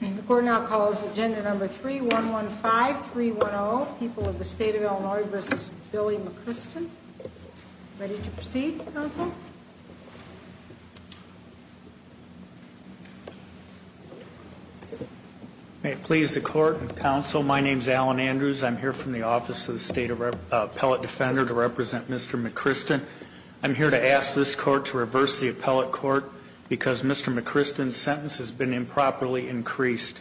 The Court now calls Agenda Number 3-115-310, People of the State of Illinois v. Billy McChriston. Ready to proceed, Counsel? May it please the Court and Counsel, my name is Alan Andrews. I'm here from the Office of the State Appellate Defender to represent Mr. McChriston. I'm here to ask this Court to reverse the Appellate Court because Mr. McChriston's sentence has been improperly increased.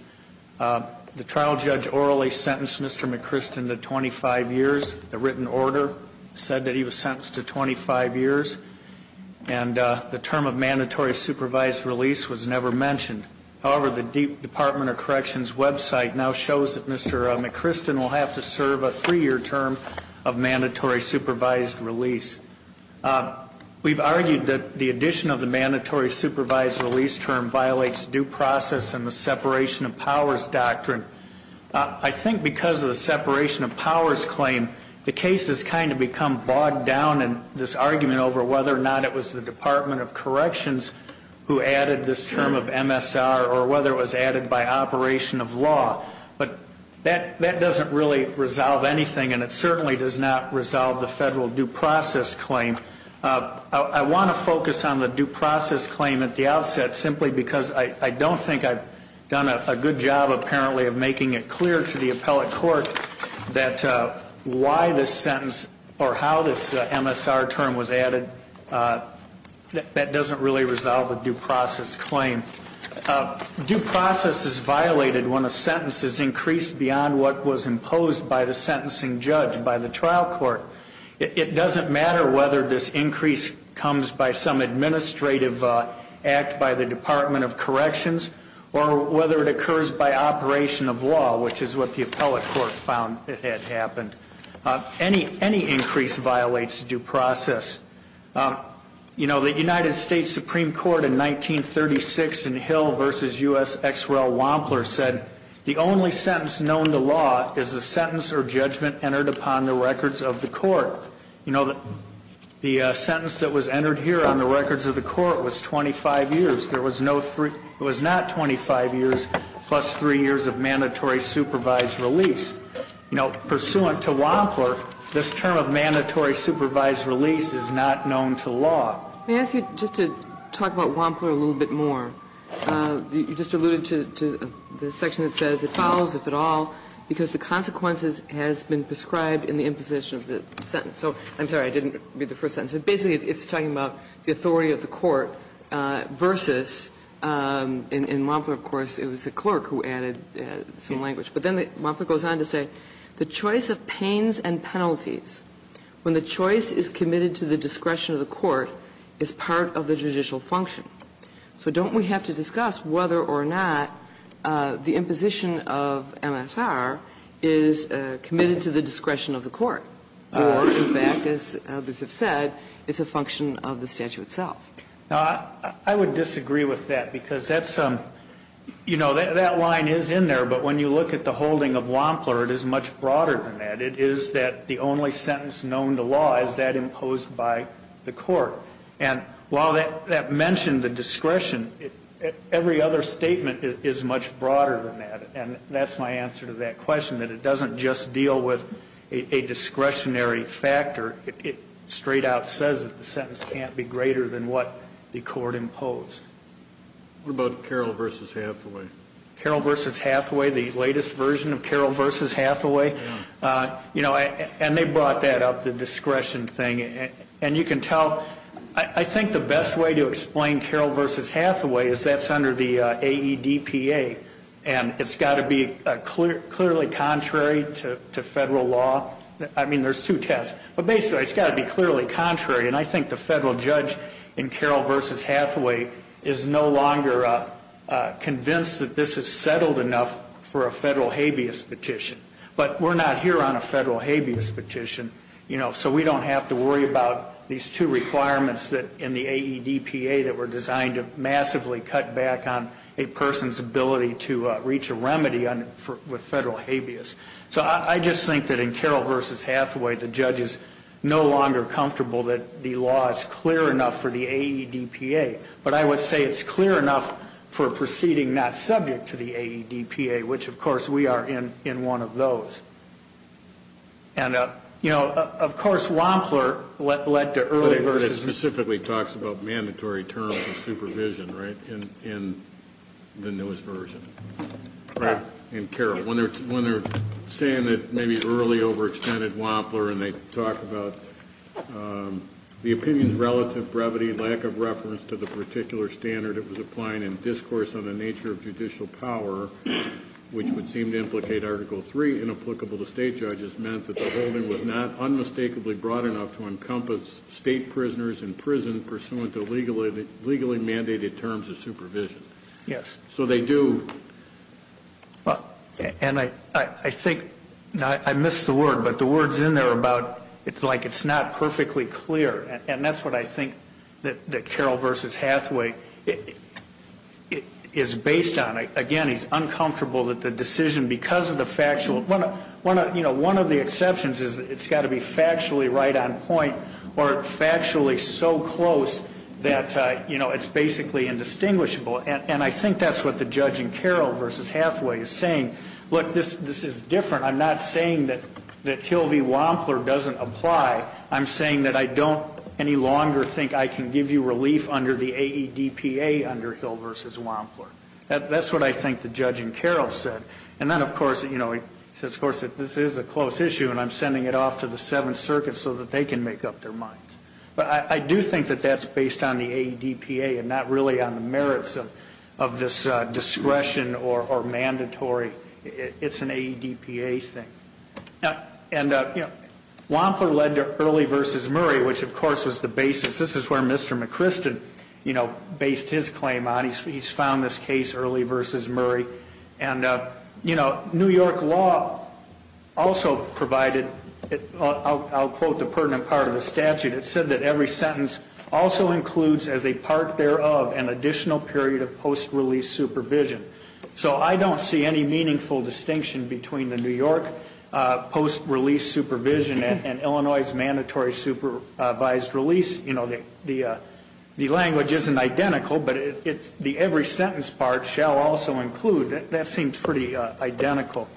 The trial judge orally sentenced Mr. McChriston to 25 years. The written order said that he was sentenced to 25 years, and the term of mandatory supervised release was never mentioned. However, the Department of Corrections website now shows that Mr. McChriston will have to serve a three-year term of mandatory supervised release. We've argued that the addition of the mandatory supervised release term violates due process and the separation of powers doctrine. I think because of the separation of powers claim, the case has kind of become bogged down in this argument over whether or not it was the Department of Corrections who added this term of MSR or whether it was added by operation of law. But that doesn't really resolve anything, and it certainly does not resolve the federal due process claim. I want to focus on the due process claim at the outset simply because I don't think I've done a good job, apparently, of making it clear to the Appellate Court that why this sentence or how this MSR term was added, that doesn't really resolve the due process claim. Due process is violated when a sentence is increased beyond what was imposed by the sentencing judge, by the trial court. It doesn't matter whether this increase comes by some administrative act by the Department of Corrections or whether it occurs by operation of law, which is what the Appellate Court found had happened. Any increase violates due process. You know, the United States Supreme Court in 1936 in Hill v. U.S. X. Rel. Wampler said, the only sentence known to law is the sentence or judgment entered upon the records of the court. You know, the sentence that was entered here on the records of the court was 25 years. There was no three, it was not 25 years, plus three years of mandatory supervised release. And so this, you know, pursuant to Wampler, this term of mandatory supervised release is not known to law. Kagan. Let me ask you just to talk about Wampler a little bit more. You just alluded to the section that says it follows, if at all, because the consequences has been prescribed in the imposition of the sentence. So I'm sorry, I didn't read the first sentence. But basically, it's talking about the authority of the court versus, in Wampler, of course, it was the clerk who added some language. But then Wampler goes on to say, the choice of pains and penalties, when the choice is committed to the discretion of the court, is part of the judicial function. So don't we have to discuss whether or not the imposition of MSR is committed to the discretion of the court, or in fact, as others have said, it's a function of the statute itself? I would disagree with that, because that's, you know, that line is in there. But when you look at the holding of Wampler, it is much broader than that. It is that the only sentence known to law is that imposed by the court. And while that mentioned the discretion, every other statement is much broader than that. And that's my answer to that question, that it doesn't just deal with a discretionary factor, it straight out says that the sentence can't be greater than what the court imposed. What about Carroll v. Hathaway? Carroll v. Hathaway, the latest version of Carroll v. Hathaway? You know, and they brought that up, the discretion thing. And you can tell, I think the best way to explain Carroll v. Hathaway is that's under the AEDPA, and it's got to be clearly contrary to federal law. I mean, there's two tests. But basically, it's got to be clearly contrary. And I think the federal judge in Carroll v. Hathaway is no longer convinced that this is settled enough for a federal habeas petition. But we're not here on a federal habeas petition, you know, so we don't have to worry about these two requirements in the AEDPA that were designed to massively cut back on a person's ability to reach a remedy with federal habeas. So I just think that in Carroll v. Hathaway, the judge is no longer comfortable that the law is clear enough for the AEDPA. But I would say it's clear enough for a proceeding not subject to the AEDPA, which, of course, we are in one of those. And, you know, of course Wampler led to early versus the... But it specifically talks about mandatory terms of supervision, right, in the newest version. In Carroll, when they're saying that maybe early overextended Wampler and they talk about the opinion's relative brevity, lack of reference to the particular standard it was applying and discourse on the nature of judicial power, which would seem to implicate Article III inapplicable to state judges, meant that the holding was not unmistakably broad enough to encompass state prisoners in prison pursuant to legally mandated terms of supervision. Yes. So they do. And I think... I missed the word, but the word's in there about it's like it's not perfectly clear. And that's what I think that Carroll v. Hathaway is based on. Again, he's uncomfortable that the decision, because of the factual... You know, one of the exceptions is it's got to be factually right on point or factually so close that, you know, it's basically indistinguishable. And I think that's what the judge in Carroll v. Hathaway is saying. Look, this is different. I'm not saying that Hill v. Wampler doesn't apply. I'm saying that I don't any longer think I can give you relief under the AEDPA under Hill v. Wampler. That's what I think the judge in Carroll said. And then, of course, you know, he says, of course, this is a close issue and I'm sending it off to the Seventh Circuit so that they can make up their minds. But I do think that that's based on the AEDPA and not really on the merits of this discretion or mandatory. It's an AEDPA thing. And, you know, Wampler led to Early v. Murray, which, of course, was the basis. This is where Mr. McCristen, you know, based his claim on. He's found this case Early v. Murray. And, you know, New York law also provided, I'll quote the pertinent part of the statute, it said that every sentence also includes as a part thereof an additional period of post-release supervision. So I don't see any meaningful distinction between the New York post-release supervision and Illinois' mandatory supervised release. You know, the language isn't identical, but it's the every sentence part shall also include. That seems pretty identical.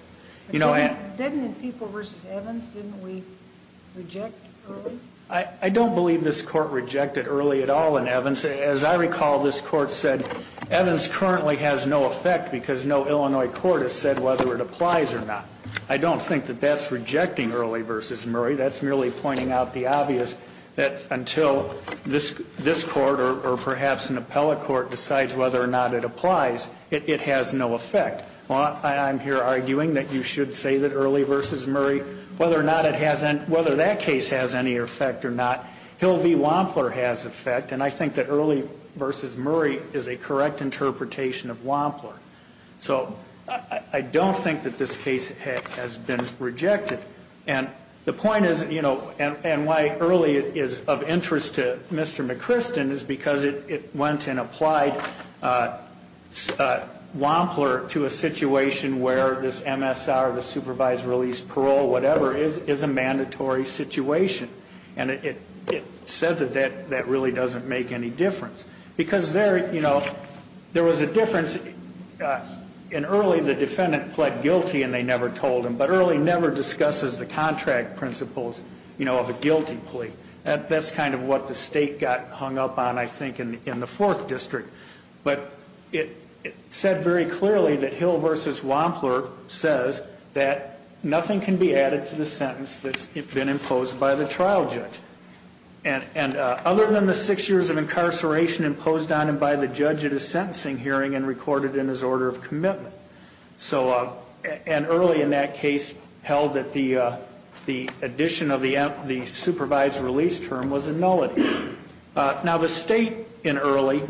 Didn't it equal v. Evans? Didn't we reject Early? I don't believe this Court rejected Early at all in Evans. As I recall, this Court said Evans currently has no effect because no Illinois court has said whether it applies or not. I don't think that that's rejecting Early v. Murray. That's merely pointing out the obvious that until this Court or perhaps an appellate court decides whether or not it applies, it has no effect. I'm here arguing that you should say that Early v. Murray, whether that case has any effect or not, Hill v. Wampler has effect, and I think that Early v. Murray is a correct interpretation of Wampler. So I don't think that this case has been rejected. And the point is, you know, and why Early is of interest to Mr. McChristen is because it went and applied Wampler to a situation where this MSR, the supervised release parole, whatever, is a mandatory situation. And it said that that really doesn't make any difference. Because there, you know, there was a difference. In Early, the defendant pled guilty and they never told him. But Early never discusses the contract principles, you know, of a guilty plea. That's kind of what the State got hung up on, I think, in the Fourth District. But it said very clearly that Hill v. Wampler says that nothing can be added to the sentence that's been imposed by the trial judge. And other than the six years of incarceration imposed on him by the judge at his sentencing hearing and recorded in his order of commitment. And Early, in that case, held that the addition of the supervised release term was a nullity. Now, the State in Early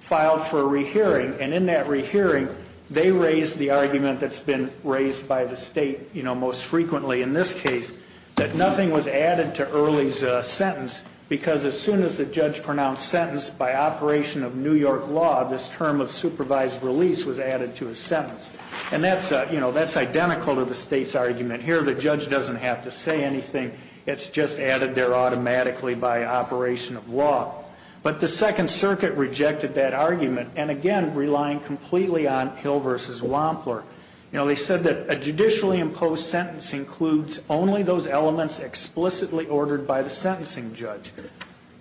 filed for a rehearing. And in that rehearing, they raised the argument that's been raised by the State, you know, most frequently in this case, that nothing was added to Early's sentence. Because as soon as the judge pronounced sentence by operation of New York law, this term of supervised release was added to his sentence. And that's, you know, that's identical to the State's argument here. The judge doesn't have to say anything. It's just added there automatically by operation of law. But the Second Circuit rejected that argument. And again, relying completely on Hill v. Wampler. You know, they said that a judicially imposed sentence includes only those elements explicitly ordered by the sentencing judge.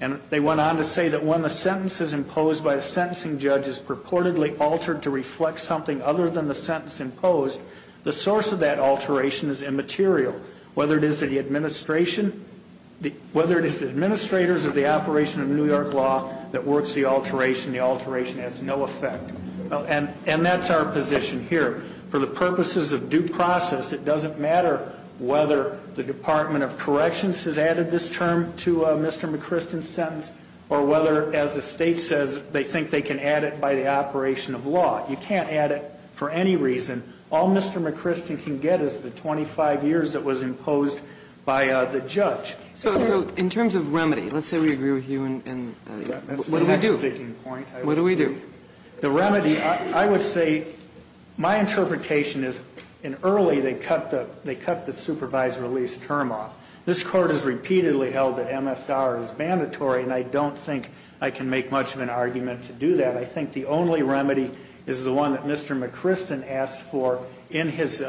And they went on to say that when the sentence is imposed by a sentencing judge is purportedly altered to reflect something other than the sentence imposed, the source of that alteration is immaterial. Whether it is the administration, whether it is administrators of the operation of New York law that works the alteration, the alteration has no effect. And that's our position here. For the purposes of due process, it doesn't matter whether the Department of Corrections has added this term to Mr. McChristin's sentence or whether, as the State says, they think they can add it by the operation of law. You can't add it for any reason. All Mr. McChristin can get is the 25 years that was imposed by the judge. So in terms of remedy, let's say we agree with you and that's the next speaking point. What do we do? The remedy, I would say, my interpretation is in early they cut the supervised release term off. This court has repeatedly held that MSR is mandatory and I don't think I can make much of an argument to do that. I think the only remedy is the one that Mr. McChristin asked for in his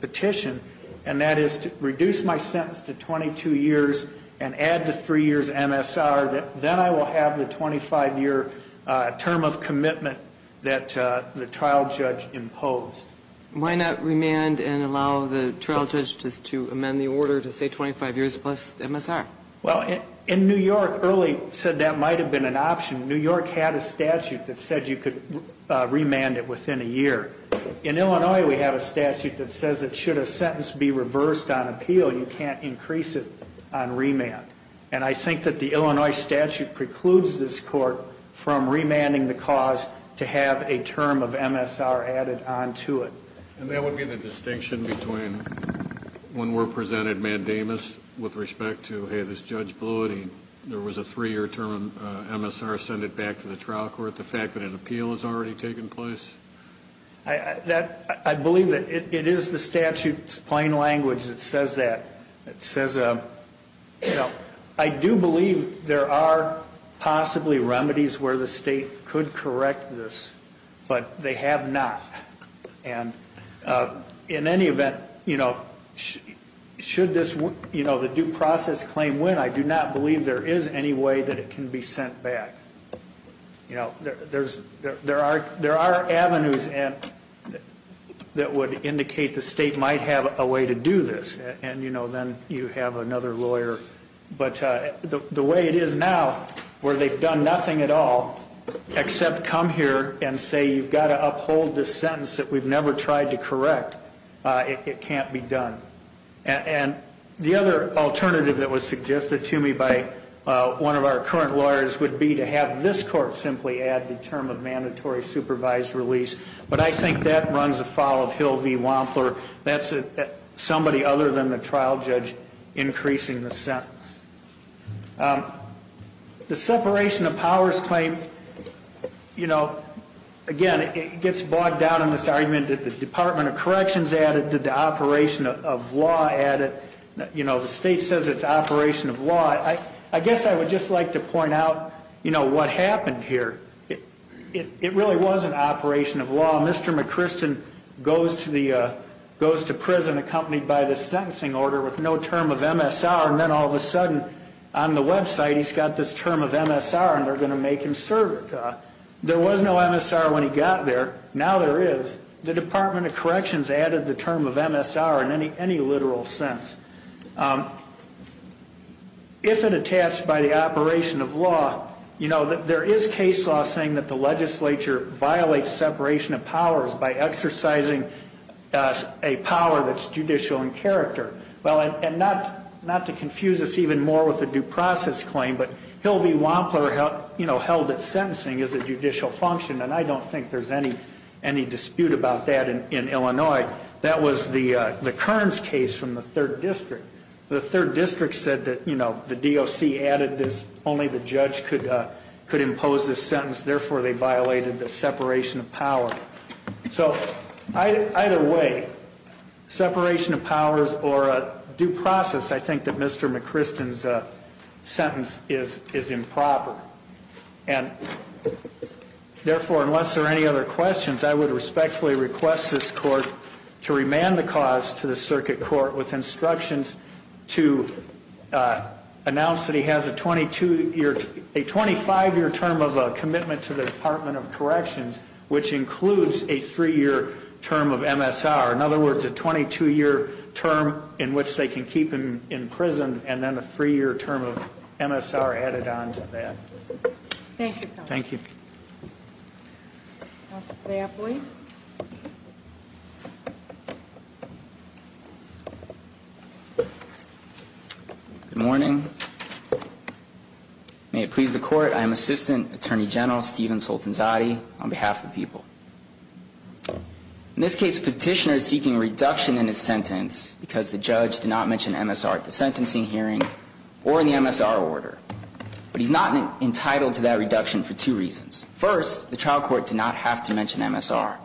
petition, and that is to reduce my sentence to 22 years and add the three years MSR. Then I will have the 25-year term of commitment that the trial judge imposed. Why not remand and allow the trial judge to amend the order to say 25 years plus MSR? Well, in New York, early said that might have been an option. New York had a statute that said you could remand it within a year. In Illinois, we have a statute that says that should a sentence be reversed on appeal, you can't increase it on remand. And I think that the Illinois statute precludes this court from remanding the cause to have a term of MSR added onto it. And that would be the distinction between when we're presented mandamus with respect to, hey, this judge blew it and there was a three-year term MSR, send it back to the trial court, the fact that an appeal has already taken place? I believe that it is the statute's plain language that says that. It says, you know, I do believe there are possibly remedies where the state could correct this, but they have not. And in any event, you know, should this, you know, the due process claim win, I do not believe there is any way that it can be sent back. You know, there are avenues that would indicate the state might have a way to do this, and, you know, then you have another lawyer. But the way it is now, where they've done nothing at all except come here and say you've got to uphold this sentence that we've never tried to correct, it can't be done. And the other alternative that was suggested to me by one of our current lawyers would be to have this court simply add the term of mandatory supervised release. But I think that runs afoul of Hill v. Wampler. That's somebody other than the trial judge increasing the sentence. The separation of powers claim, you know, again, it gets bogged down in this argument that the Department of Corrections added, that the operation of law added. You know, the state says it's operation of law. I guess I would just like to point out, you know, what happened here. It really was an operation of law. Mr. McKristen goes to prison accompanied by this sentencing order with no term of MSR, and then all of a sudden, on the website, he's got this term of MSR, and they're going to make him serve it. There was no MSR when he got there. Now there is. The Department of Corrections added the term of MSR in any literal sense. If it attached by the operation of law, you know, there is case law saying that the Department of Corrections added the term of MSR to the separation of powers by exercising a power that's judicial in character. Well, and not to confuse us even more with the due process claim, but Hill v. Wampler, you know, held that sentencing is a judicial function, and I don't think there's any dispute about that in Illinois. That was the Kearns case from the Third District. The Third District said that, you know, the DOC added this. They said that only the judge could impose this sentence. Therefore, they violated the separation of power. So either way, separation of powers or due process, I think that Mr. McChristian's sentence is improper. And therefore, unless there are any other questions, I would respectfully request this court to remand the cause to the circuit court with instructions to announce that he has a 22-year, a 25-year term of commitment to the Department of Corrections, which includes a three-year term of MSR. In other words, a 22-year term in which they can keep him in prison and then a three-year term of MSR added on to that. Thank you, counsel. Thank you. Counsel Cleopold? Good morning. May it please the Court, I am Assistant Attorney General Stephen Soltanzati on behalf of the people. In this case, the Petitioner is seeking reduction in his sentence because the judge did not mention MSR at the sentencing hearing or in the MSR order. But he's not entitled to that reduction for two reasons. First, the trial court did not have to mention MSR.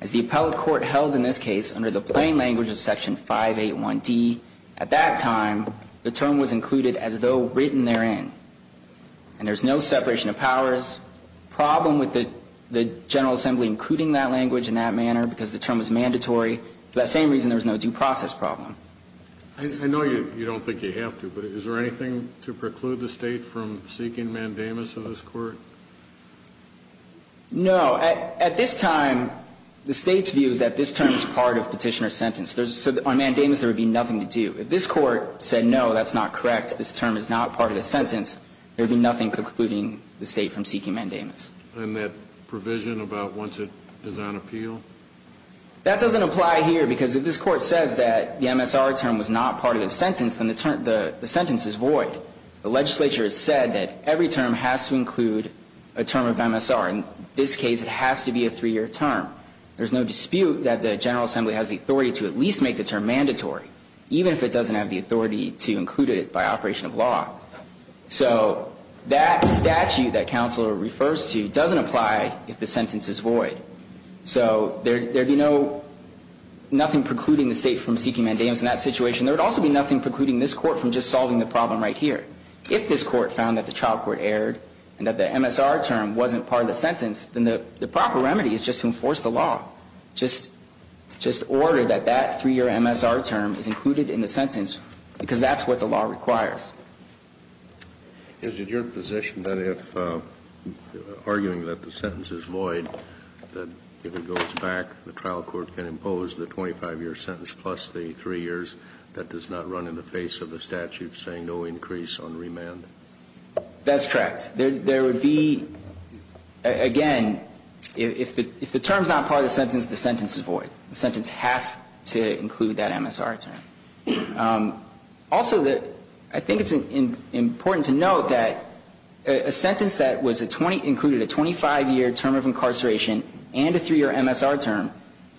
As the appellate court held in this case under the plain language of Section 581D at that time, the term was included as though written therein. And there's no separation of powers problem with the General Assembly including that language in that manner because the term was mandatory. For that same reason, there was no due process problem. I know you don't think you have to, but is there anything to preclude the State from seeking mandamus of this Court? No. At this time, the State's view is that this term is part of Petitioner's sentence. On mandamus, there would be nothing to do. If this Court said, no, that's not correct, this term is not part of the sentence, there would be nothing precluding the State from seeking mandamus. And that provision about once it is on appeal? That doesn't apply here because if this Court says that the MSR term was not part of the sentence, then the sentence is void. The legislature has said that every term has to include a term of MSR. In this case, it has to be a three-year term. There's no dispute that the General Assembly has the authority to at least make the term mandatory, even if it doesn't have the authority to include it by operation of law. So that statute that Counselor refers to doesn't apply if the sentence is void. So there would be nothing precluding the State from seeking mandamus in that situation. There would also be nothing precluding this Court from just solving the problem right here. If this Court found that the child court erred and that the MSR term wasn't part of the sentence, then the proper remedy is just to enforce the law. Just order that that three-year MSR term is included in the sentence because that's what the law requires. Is it your position that if, arguing that the sentence is void, that if it goes back, the trial court can impose the 25-year sentence plus the three years? That does not run in the face of a statute saying no increase on remand? That's correct. There would be, again, if the term is not part of the sentence, the sentence is void. The sentence has to include that MSR term. Also, I think it's important to note that a sentence that included a 25-year term of incarceration and a three-year MSR term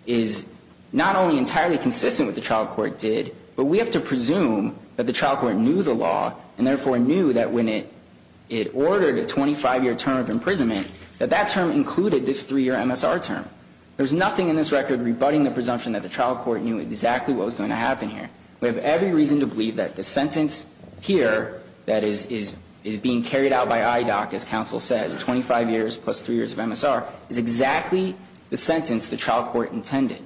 is not only entirely consistent with what the trial court did, but we have to presume that the trial court knew the law and therefore knew that when it ordered a 25-year term of imprisonment that that term included this three-year MSR term. There's nothing in this record rebutting the presumption that the trial court knew exactly what was going to happen here. We have every reason to believe that the sentence here that is being carried out by IDOC, as counsel says, 25 years plus three years of MSR, is exactly the sentence the trial court intended.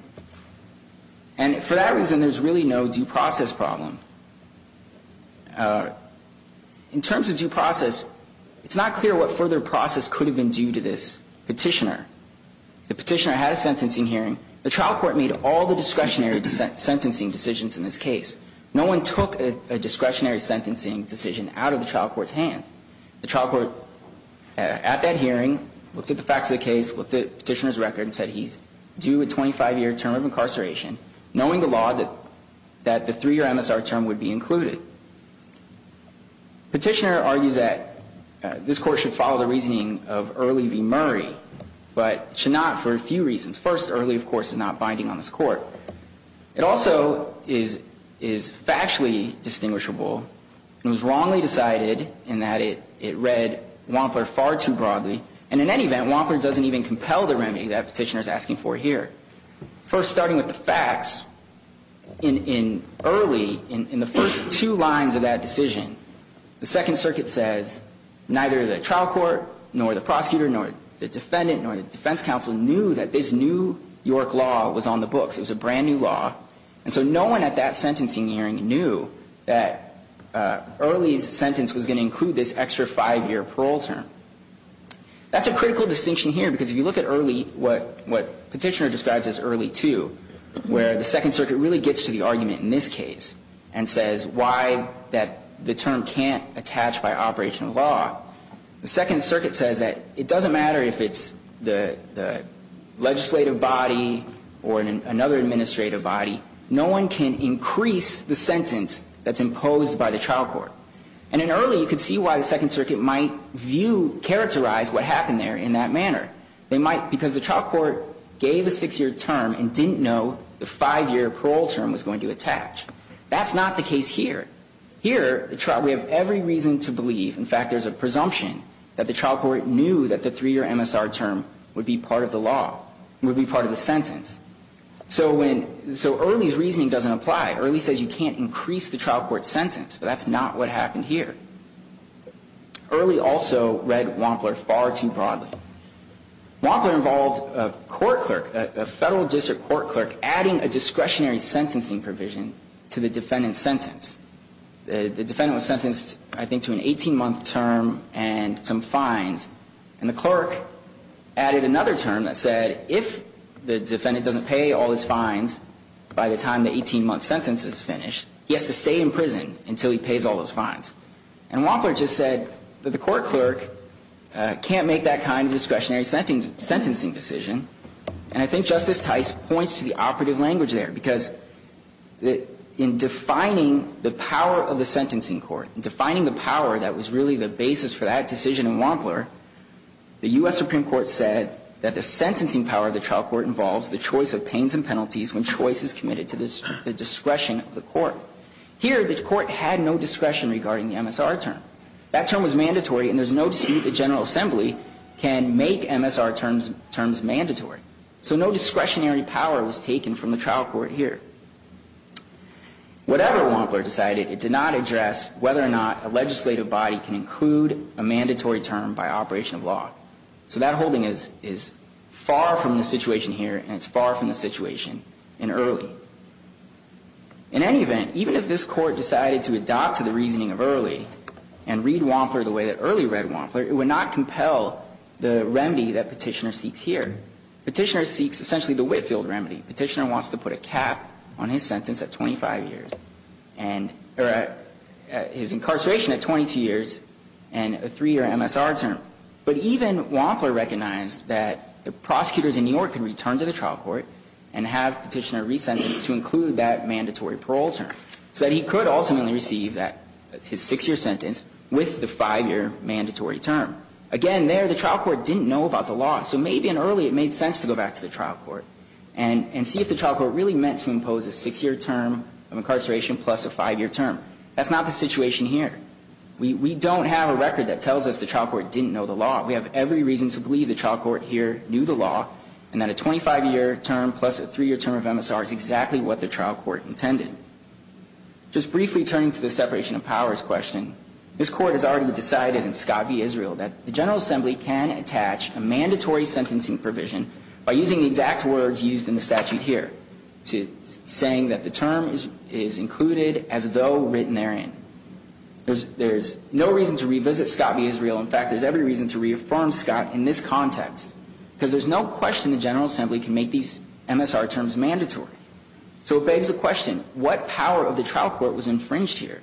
And for that reason, there's really no due process problem. In terms of due process, it's not clear what further process could have been due to this petitioner. The petitioner had a sentencing hearing. The trial court made all the discretionary sentencing decisions in this case. No one took a discretionary sentencing decision out of the trial court's hands. The trial court, at that hearing, looked at the facts of the case, looked at the petitioner's record and said he's due a 25-year term of incarceration, knowing the law that the three-year MSR term would be included. Petitioner argues that this court should follow the reasoning of Early v. Murray, but should not for a few reasons. First, Early, of course, is not binding on this court. It also is factually distinguishable and was wrongly decided in that it read Wampler far too broadly. And in any event, Wampler doesn't even compel the remedy that petitioner is asking for here. First, starting with the facts, in Early, in the first two lines of that decision, the Second Circuit says neither the trial court nor the prosecutor nor the defendant nor the defense counsel knew that this new York law was on the books. It was a brand-new law. And so no one at that sentencing hearing knew that Early's sentence was going to include this extra five-year parole term. That's a critical distinction here, because if you look at Early, what Petitioner describes as Early II, where the Second Circuit really gets to the argument in this case and says why that the term can't attach by operational law, the Second Circuit says that it doesn't matter if it's the legislative body or another administrative body. No one can increase the sentence that's imposed by the trial court. And in Early, you could see why the Second Circuit might view, characterize what happened there in that manner. They might, because the trial court gave a six-year term and didn't know the five-year parole term was going to attach. That's not the case here. Here, we have every reason to believe, in fact, there's a presumption, that the trial court knew that the three-year MSR term would be part of the law, would be part of the sentence. So Early's reasoning doesn't apply. Early says you can't increase the trial court's sentence, but that's not what happened here. Early also read Wampler far too broadly. Wampler involved a court clerk, a federal district court clerk, adding a discretionary sentencing provision to the defendant's sentence. The defendant was sentenced, I think, to an 18-month term and some fines. And the clerk added another term that said if the defendant doesn't pay all his fines by the time the 18-month sentence is finished, he has to stay in prison until he pays all his fines. And Wampler just said that the court clerk can't make that kind of discretionary sentencing decision. And I think Justice Tice points to the operative language there, because in defining the power of the sentencing court, in defining the power that was really the basis for that decision in Wampler, the U.S. Supreme Court said that the sentencing power of the trial court involves the choice of pains and penalties when choice is committed to the discretion of the court. Here, the court had no discretion regarding the MSR term. That term was mandatory, and there's no dispute that General Assembly can make MSR terms mandatory. So no discretionary power was taken from the trial court here. Whatever Wampler decided, it did not address whether or not a legislative body can include a mandatory term by operation of law. So that holding is far from the situation here, and it's far from the situation in Early. In any event, even if this Court decided to adopt to the reasoning of Early and read Wampler the way that Early read Wampler, it would not compel the remedy that Petitioner seeks here. Petitioner seeks essentially the Whitefield remedy. Petitioner wants to put a cap on his sentence at 25 years, or his incarceration at 22 years and a three-year MSR term. But even Wampler recognized that the prosecutors in New York can return to the trial court and have Petitioner resentenced to include that mandatory parole term, so that he could ultimately receive his six-year sentence with the five-year mandatory term. Again, there, the trial court didn't know about the law. So maybe in Early it made sense to go back to the trial court. And see if the trial court really meant to impose a six-year term of incarceration plus a five-year term. That's not the situation here. We don't have a record that tells us the trial court didn't know the law. We have every reason to believe the trial court here knew the law, and that a 25-year term plus a three-year term of MSR is exactly what the trial court intended. Just briefly turning to the separation of powers question, this Court has already decided in Scott v. Israel that the General Assembly can attach a mandatory sentencing provision by using the exact words used in the statute here, saying that the term is included as though written therein. There's no reason to revisit Scott v. Israel. In fact, there's every reason to reaffirm Scott in this context. Because there's no question the General Assembly can make these MSR terms mandatory. So it begs the question, what power of the trial court was infringed here?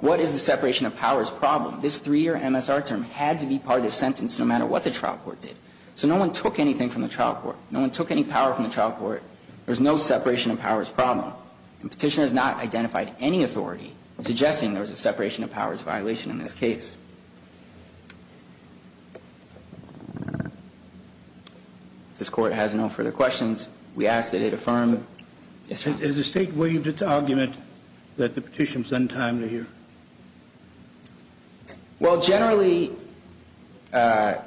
What is the separation of powers problem? This three-year MSR term had to be part of the sentence, no matter what the trial court did. So no one took anything from the trial court. No one took any power from the trial court. There's no separation of powers problem. The Petitioner has not identified any authority suggesting there was a separation of powers violation in this case. If this Court has no further questions, we ask that it affirm this argument. Has the State waived its argument that the Petitioner is untimely here? Well, generally, the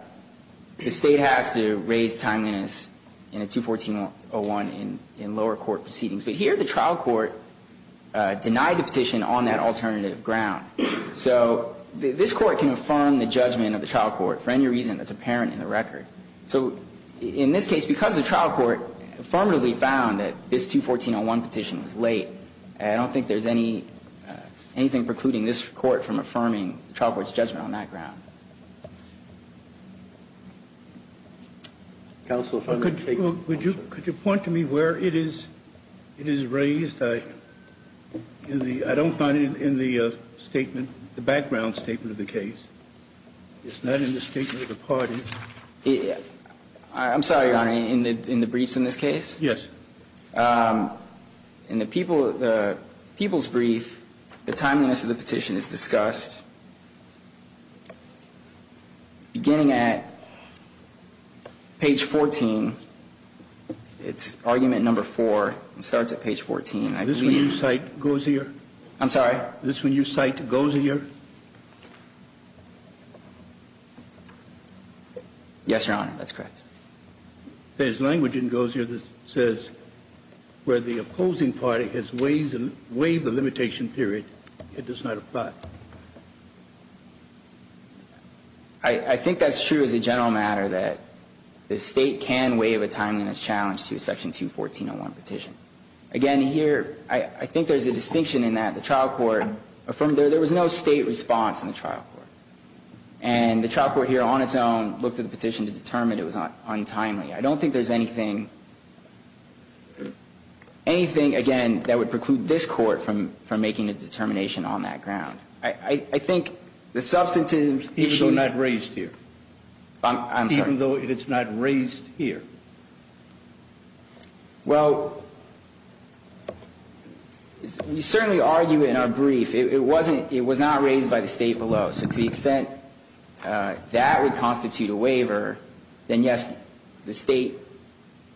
State has to raise timeliness in a 214.01 in lower court proceedings. But here the trial court denied the petition on that alternative ground. So this Court can affirm the judgment of the trial court for any reason that's apparent in the record. So in this case, because the trial court affirmatively found that this 214.01 petition was late, I don't think there's anything precluding this Court from affirming the trial court's judgment on that ground. Counsel, if I may take one more question. Could you point to me where it is raised? I don't find it in the statement, the background statement of the case. It's not in the statement of the parties. I'm sorry, Your Honor, in the briefs in this case? Yes. In the people's brief, the timeliness of the petition is discussed beginning at page 14. It's argument number 4. It starts at page 14. This one you cite goes here? I'm sorry? This one you cite goes here? Yes, Your Honor. That's correct. There's language that goes here that says where the opposing party has waived the limitation period, it does not apply. I think that's true as a general matter, that the State can waive a timeliness challenge to a section 214.01 petition. Again, here, I think there's a distinction in that the trial court affirmed there was no State response in the trial court. And the trial court here, on its own, looked at the petition to determine it was untimely. I don't think there's anything, again, that would preclude this court from making a determination on that ground. I think the substantive issue – Even though it's not raised here? I'm sorry? Even though it's not raised here? Well, you certainly argue it in our brief. It wasn't – it was not raised by the State below. So to the extent that would constitute a waiver, then yes, the State,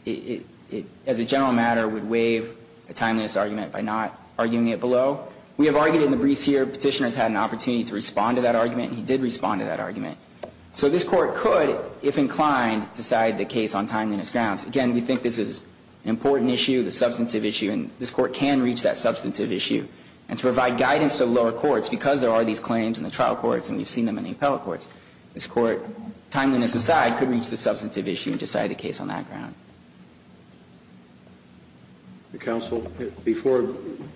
as a general matter, would waive a timeliness argument by not arguing it below. We have argued in the briefs here petitioners had an opportunity to respond to that argument, and he did respond to that argument. So this court could, if inclined, decide the case on timeliness grounds. Again, we think this is an important issue, the substantive issue, and this court can reach that substantive issue. And to provide guidance to the lower courts, because there are these claims in the trial courts and we've seen them in the appellate courts, this court, timeliness aside, could reach the substantive issue and decide the case on that ground. Counsel, before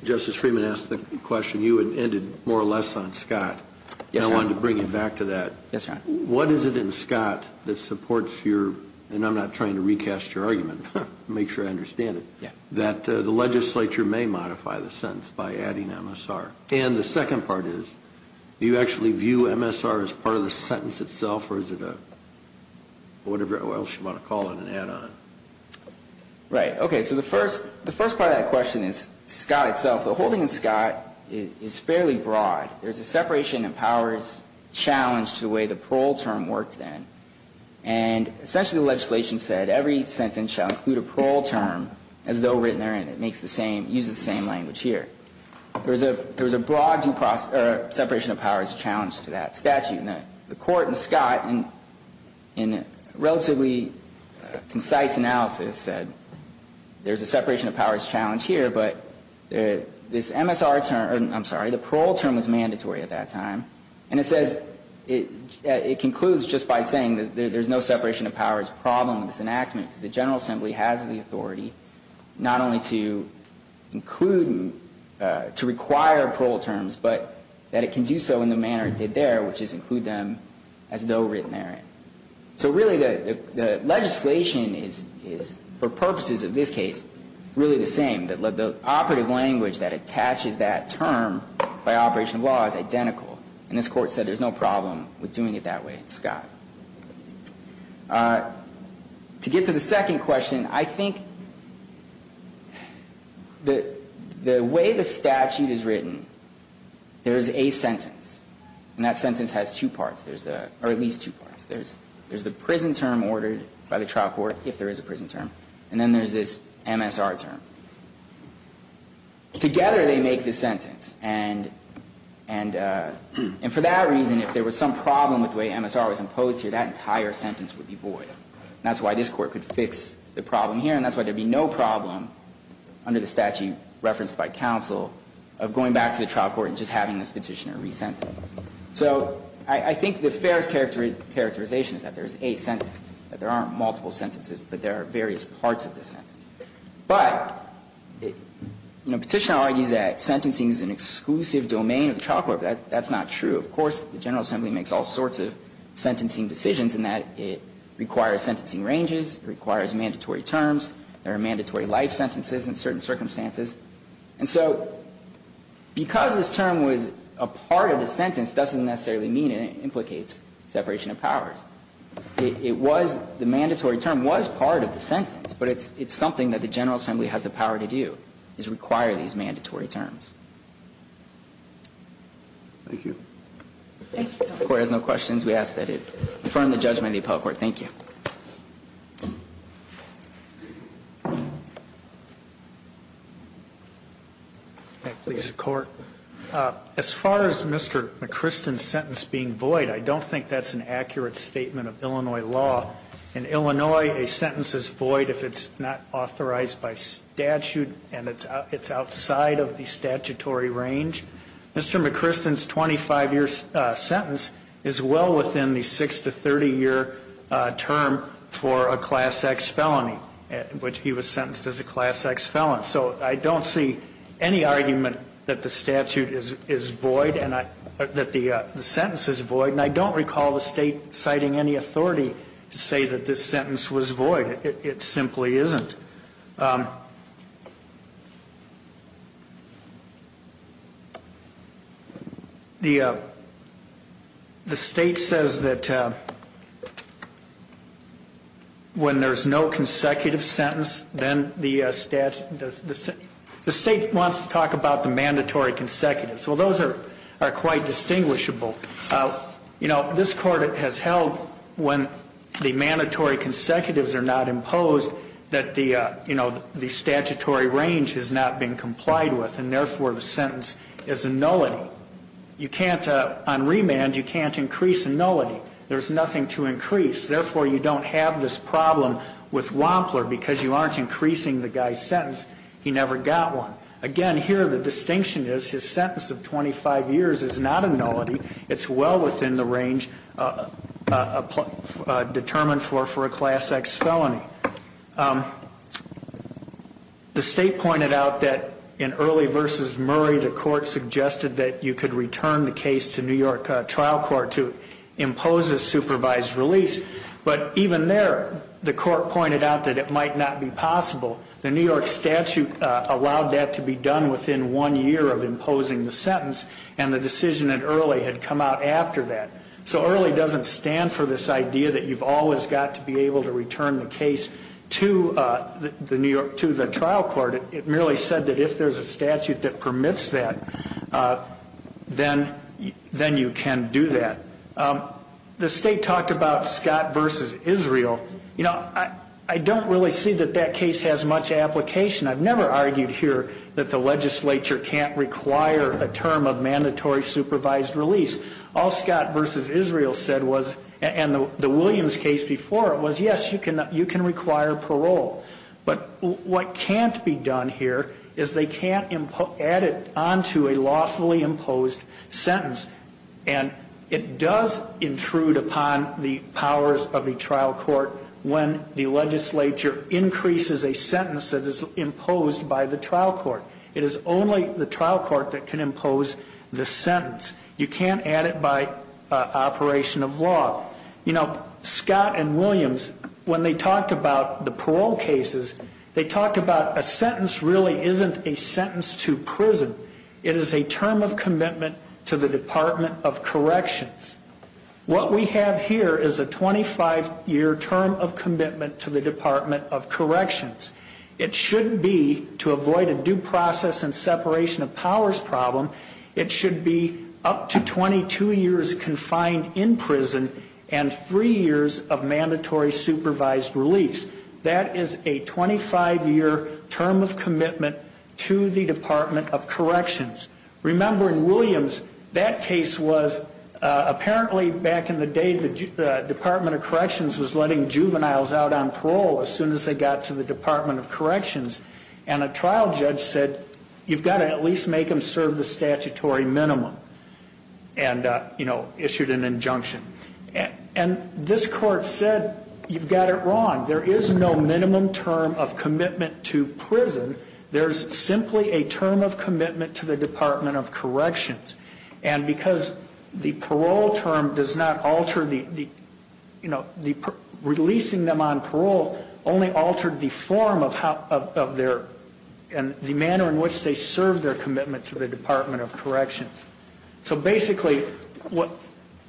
Justice Freeman asked the question, you had ended more or less on Scott. Yes, Your Honor. And I wanted to bring you back to that. Yes, Your Honor. What is it in Scott that supports your – and I'm not trying to recast your argument, to make sure I understand it – that the legislature may modify the sentence by adding MSR? And the second part is, do you actually view MSR as part of the sentence itself, or is it a – whatever else you want to call it, an add-on? Right. Okay. So the first part of that question is Scott itself. The whole thing in Scott is fairly broad. There's a separation of powers challenge to the way the parole term worked then. And essentially the legislation said every sentence shall include a parole term as though written therein. And it makes the same – uses the same language here. There was a broad separation of powers challenge to that statute. And the Court in Scott, in a relatively concise analysis, said there's a separation of powers challenge here, but this MSR term – I'm sorry, the parole term was mandatory at that time. And it says – it concludes just by saying there's no separation of powers problem in this enactment because the General Assembly has the authority not only to include and to require parole terms, but that it can do so in the manner it did there, which is include them as though written therein. So really the legislation is, for purposes of this case, really the same. The operative language that attaches that term by operation of law is identical. And this Court said there's no problem with doing it that way in Scott. To get to the second question, I think the way the statute is written, there's a sentence. And that sentence has two parts. There's the – or at least two parts. There's the prison term ordered by the trial court, if there is a prison term. And then there's this MSR term. Together they make this sentence. And for that reason, if there was some problem with the way MSR was imposed, that entire sentence would be void. And that's why this Court could fix the problem here, and that's why there would be no problem under the statute referenced by counsel of going back to the trial court and just having this Petitioner re-sentence. So I think the fairest characterization is that there's a sentence, that there aren't multiple sentences, but there are various parts of the sentence. But Petitioner argues that sentencing is an exclusive domain of the trial court. That's not true. Of course, the General Assembly makes all sorts of sentencing decisions in that it requires sentencing ranges. It requires mandatory terms. There are mandatory life sentences in certain circumstances. And so because this term was a part of the sentence doesn't necessarily mean it implicates separation of powers. It was – the mandatory term was part of the sentence, but it's something that the General Assembly has the power to do, is require these mandatory terms. Thank you. Thank you. If the Court has no questions, we ask that it affirm the judgment of the appellate court. Thank you. Please, the Court. As far as Mr. McKristen's sentence being void, I don't think that's an accurate statement of Illinois law. In Illinois, a sentence is void if it's not authorized by statute and it's outside of the statutory range. Mr. McKristen's 25-year sentence is well within the 6- to 30-year term for a Class X felony, which he was sentenced as a Class X felon. So I don't see any argument that the statute is void and I – that the sentence is void. And I don't recall the State citing any authority to say that this sentence was void. It simply isn't. The State says that when there's no consecutive sentence, then the – the State wants to talk about the mandatory consecutive. So those are quite distinguishable. You know, this Court has held when the mandatory consecutives are not imposed that the, you know, the statutory range has not been complied with and therefore the sentence is a nullity. You can't – on remand, you can't increase a nullity. There's nothing to increase. Therefore, you don't have this problem with Wampler because you aren't increasing the guy's sentence. He never got one. Again, here the distinction is his sentence of 25 years is not a nullity. It's well within the range determined for a Class X felony. The State pointed out that in Early v. Murray, the Court suggested that you could return the case to New York trial court to impose a supervised release. But even there, the Court pointed out that it might not be possible. The New York statute allowed that to be done within one year of imposing the sentence and the decision in Early had come out after that. So Early doesn't stand for this idea that you've always got to be able to return the case to the New York – to the trial court. It merely said that if there's a statute that permits that, then you can do that. The State talked about Scott v. Israel. You know, I don't really see that that case has much application. I've never argued here that the legislature can't require a term of mandatory supervised release. All Scott v. Israel said was – and the Williams case before it – was yes, you can require parole. But what can't be done here is they can't add it onto a lawfully imposed sentence. And it does intrude upon the powers of the trial court when the legislature increases a sentence that is imposed by the trial court. It is only the trial court that can impose the sentence. You can't add it by operation of law. You know, Scott and Williams, when they talked about the parole cases, they talked about a sentence really isn't a sentence to prison. It is a term of commitment to the Department of Corrections. What we have here is a 25-year term of commitment to the Department of Corrections. It shouldn't be to avoid a due process and separation of powers problem. It should be up to 22 years confined in prison and three years of mandatory supervised release. That is a 25-year term of commitment to the Department of Corrections. Remember, in Williams, that case was apparently back in the day the Department of Corrections was letting juveniles out on parole as soon as they got to the Department of Corrections. And a trial judge said, you've got to at least make them serve the statutory minimum and, you know, issued an injunction. And this court said, you've got it wrong. There is no minimum term of commitment to prison. There is simply a term of commitment to the Department of Corrections. And because the parole term does not alter the, you know, releasing them on parole only altered the form of their and the manner in which they served their commitment to the Department of Corrections. So, basically, what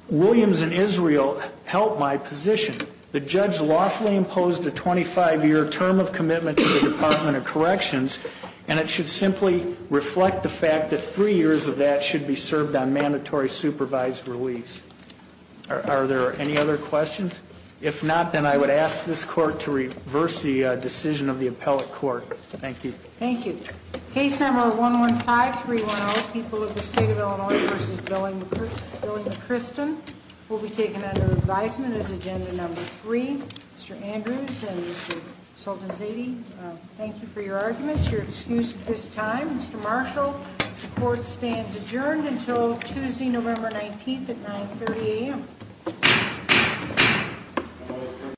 Williams and Israel held my position, the judge lawfully imposed a 25-year term of commitment to the Department of Corrections. And it should simply reflect the fact that three years of that should be served on mandatory supervised release. Are there any other questions? If not, then I would ask this court to reverse the decision of the appellate court. Thank you. Thank you. Case number 115-310, People of the State of Illinois v. Billing McCristen, will be taken under advisement as agenda number three. Mr. Andrews and Mr. Sultanzadeh, thank you for your arguments, your excuse at this time. Mr. Marshall, the court stands adjourned until Tuesday, November 19th at 9.30 a.m.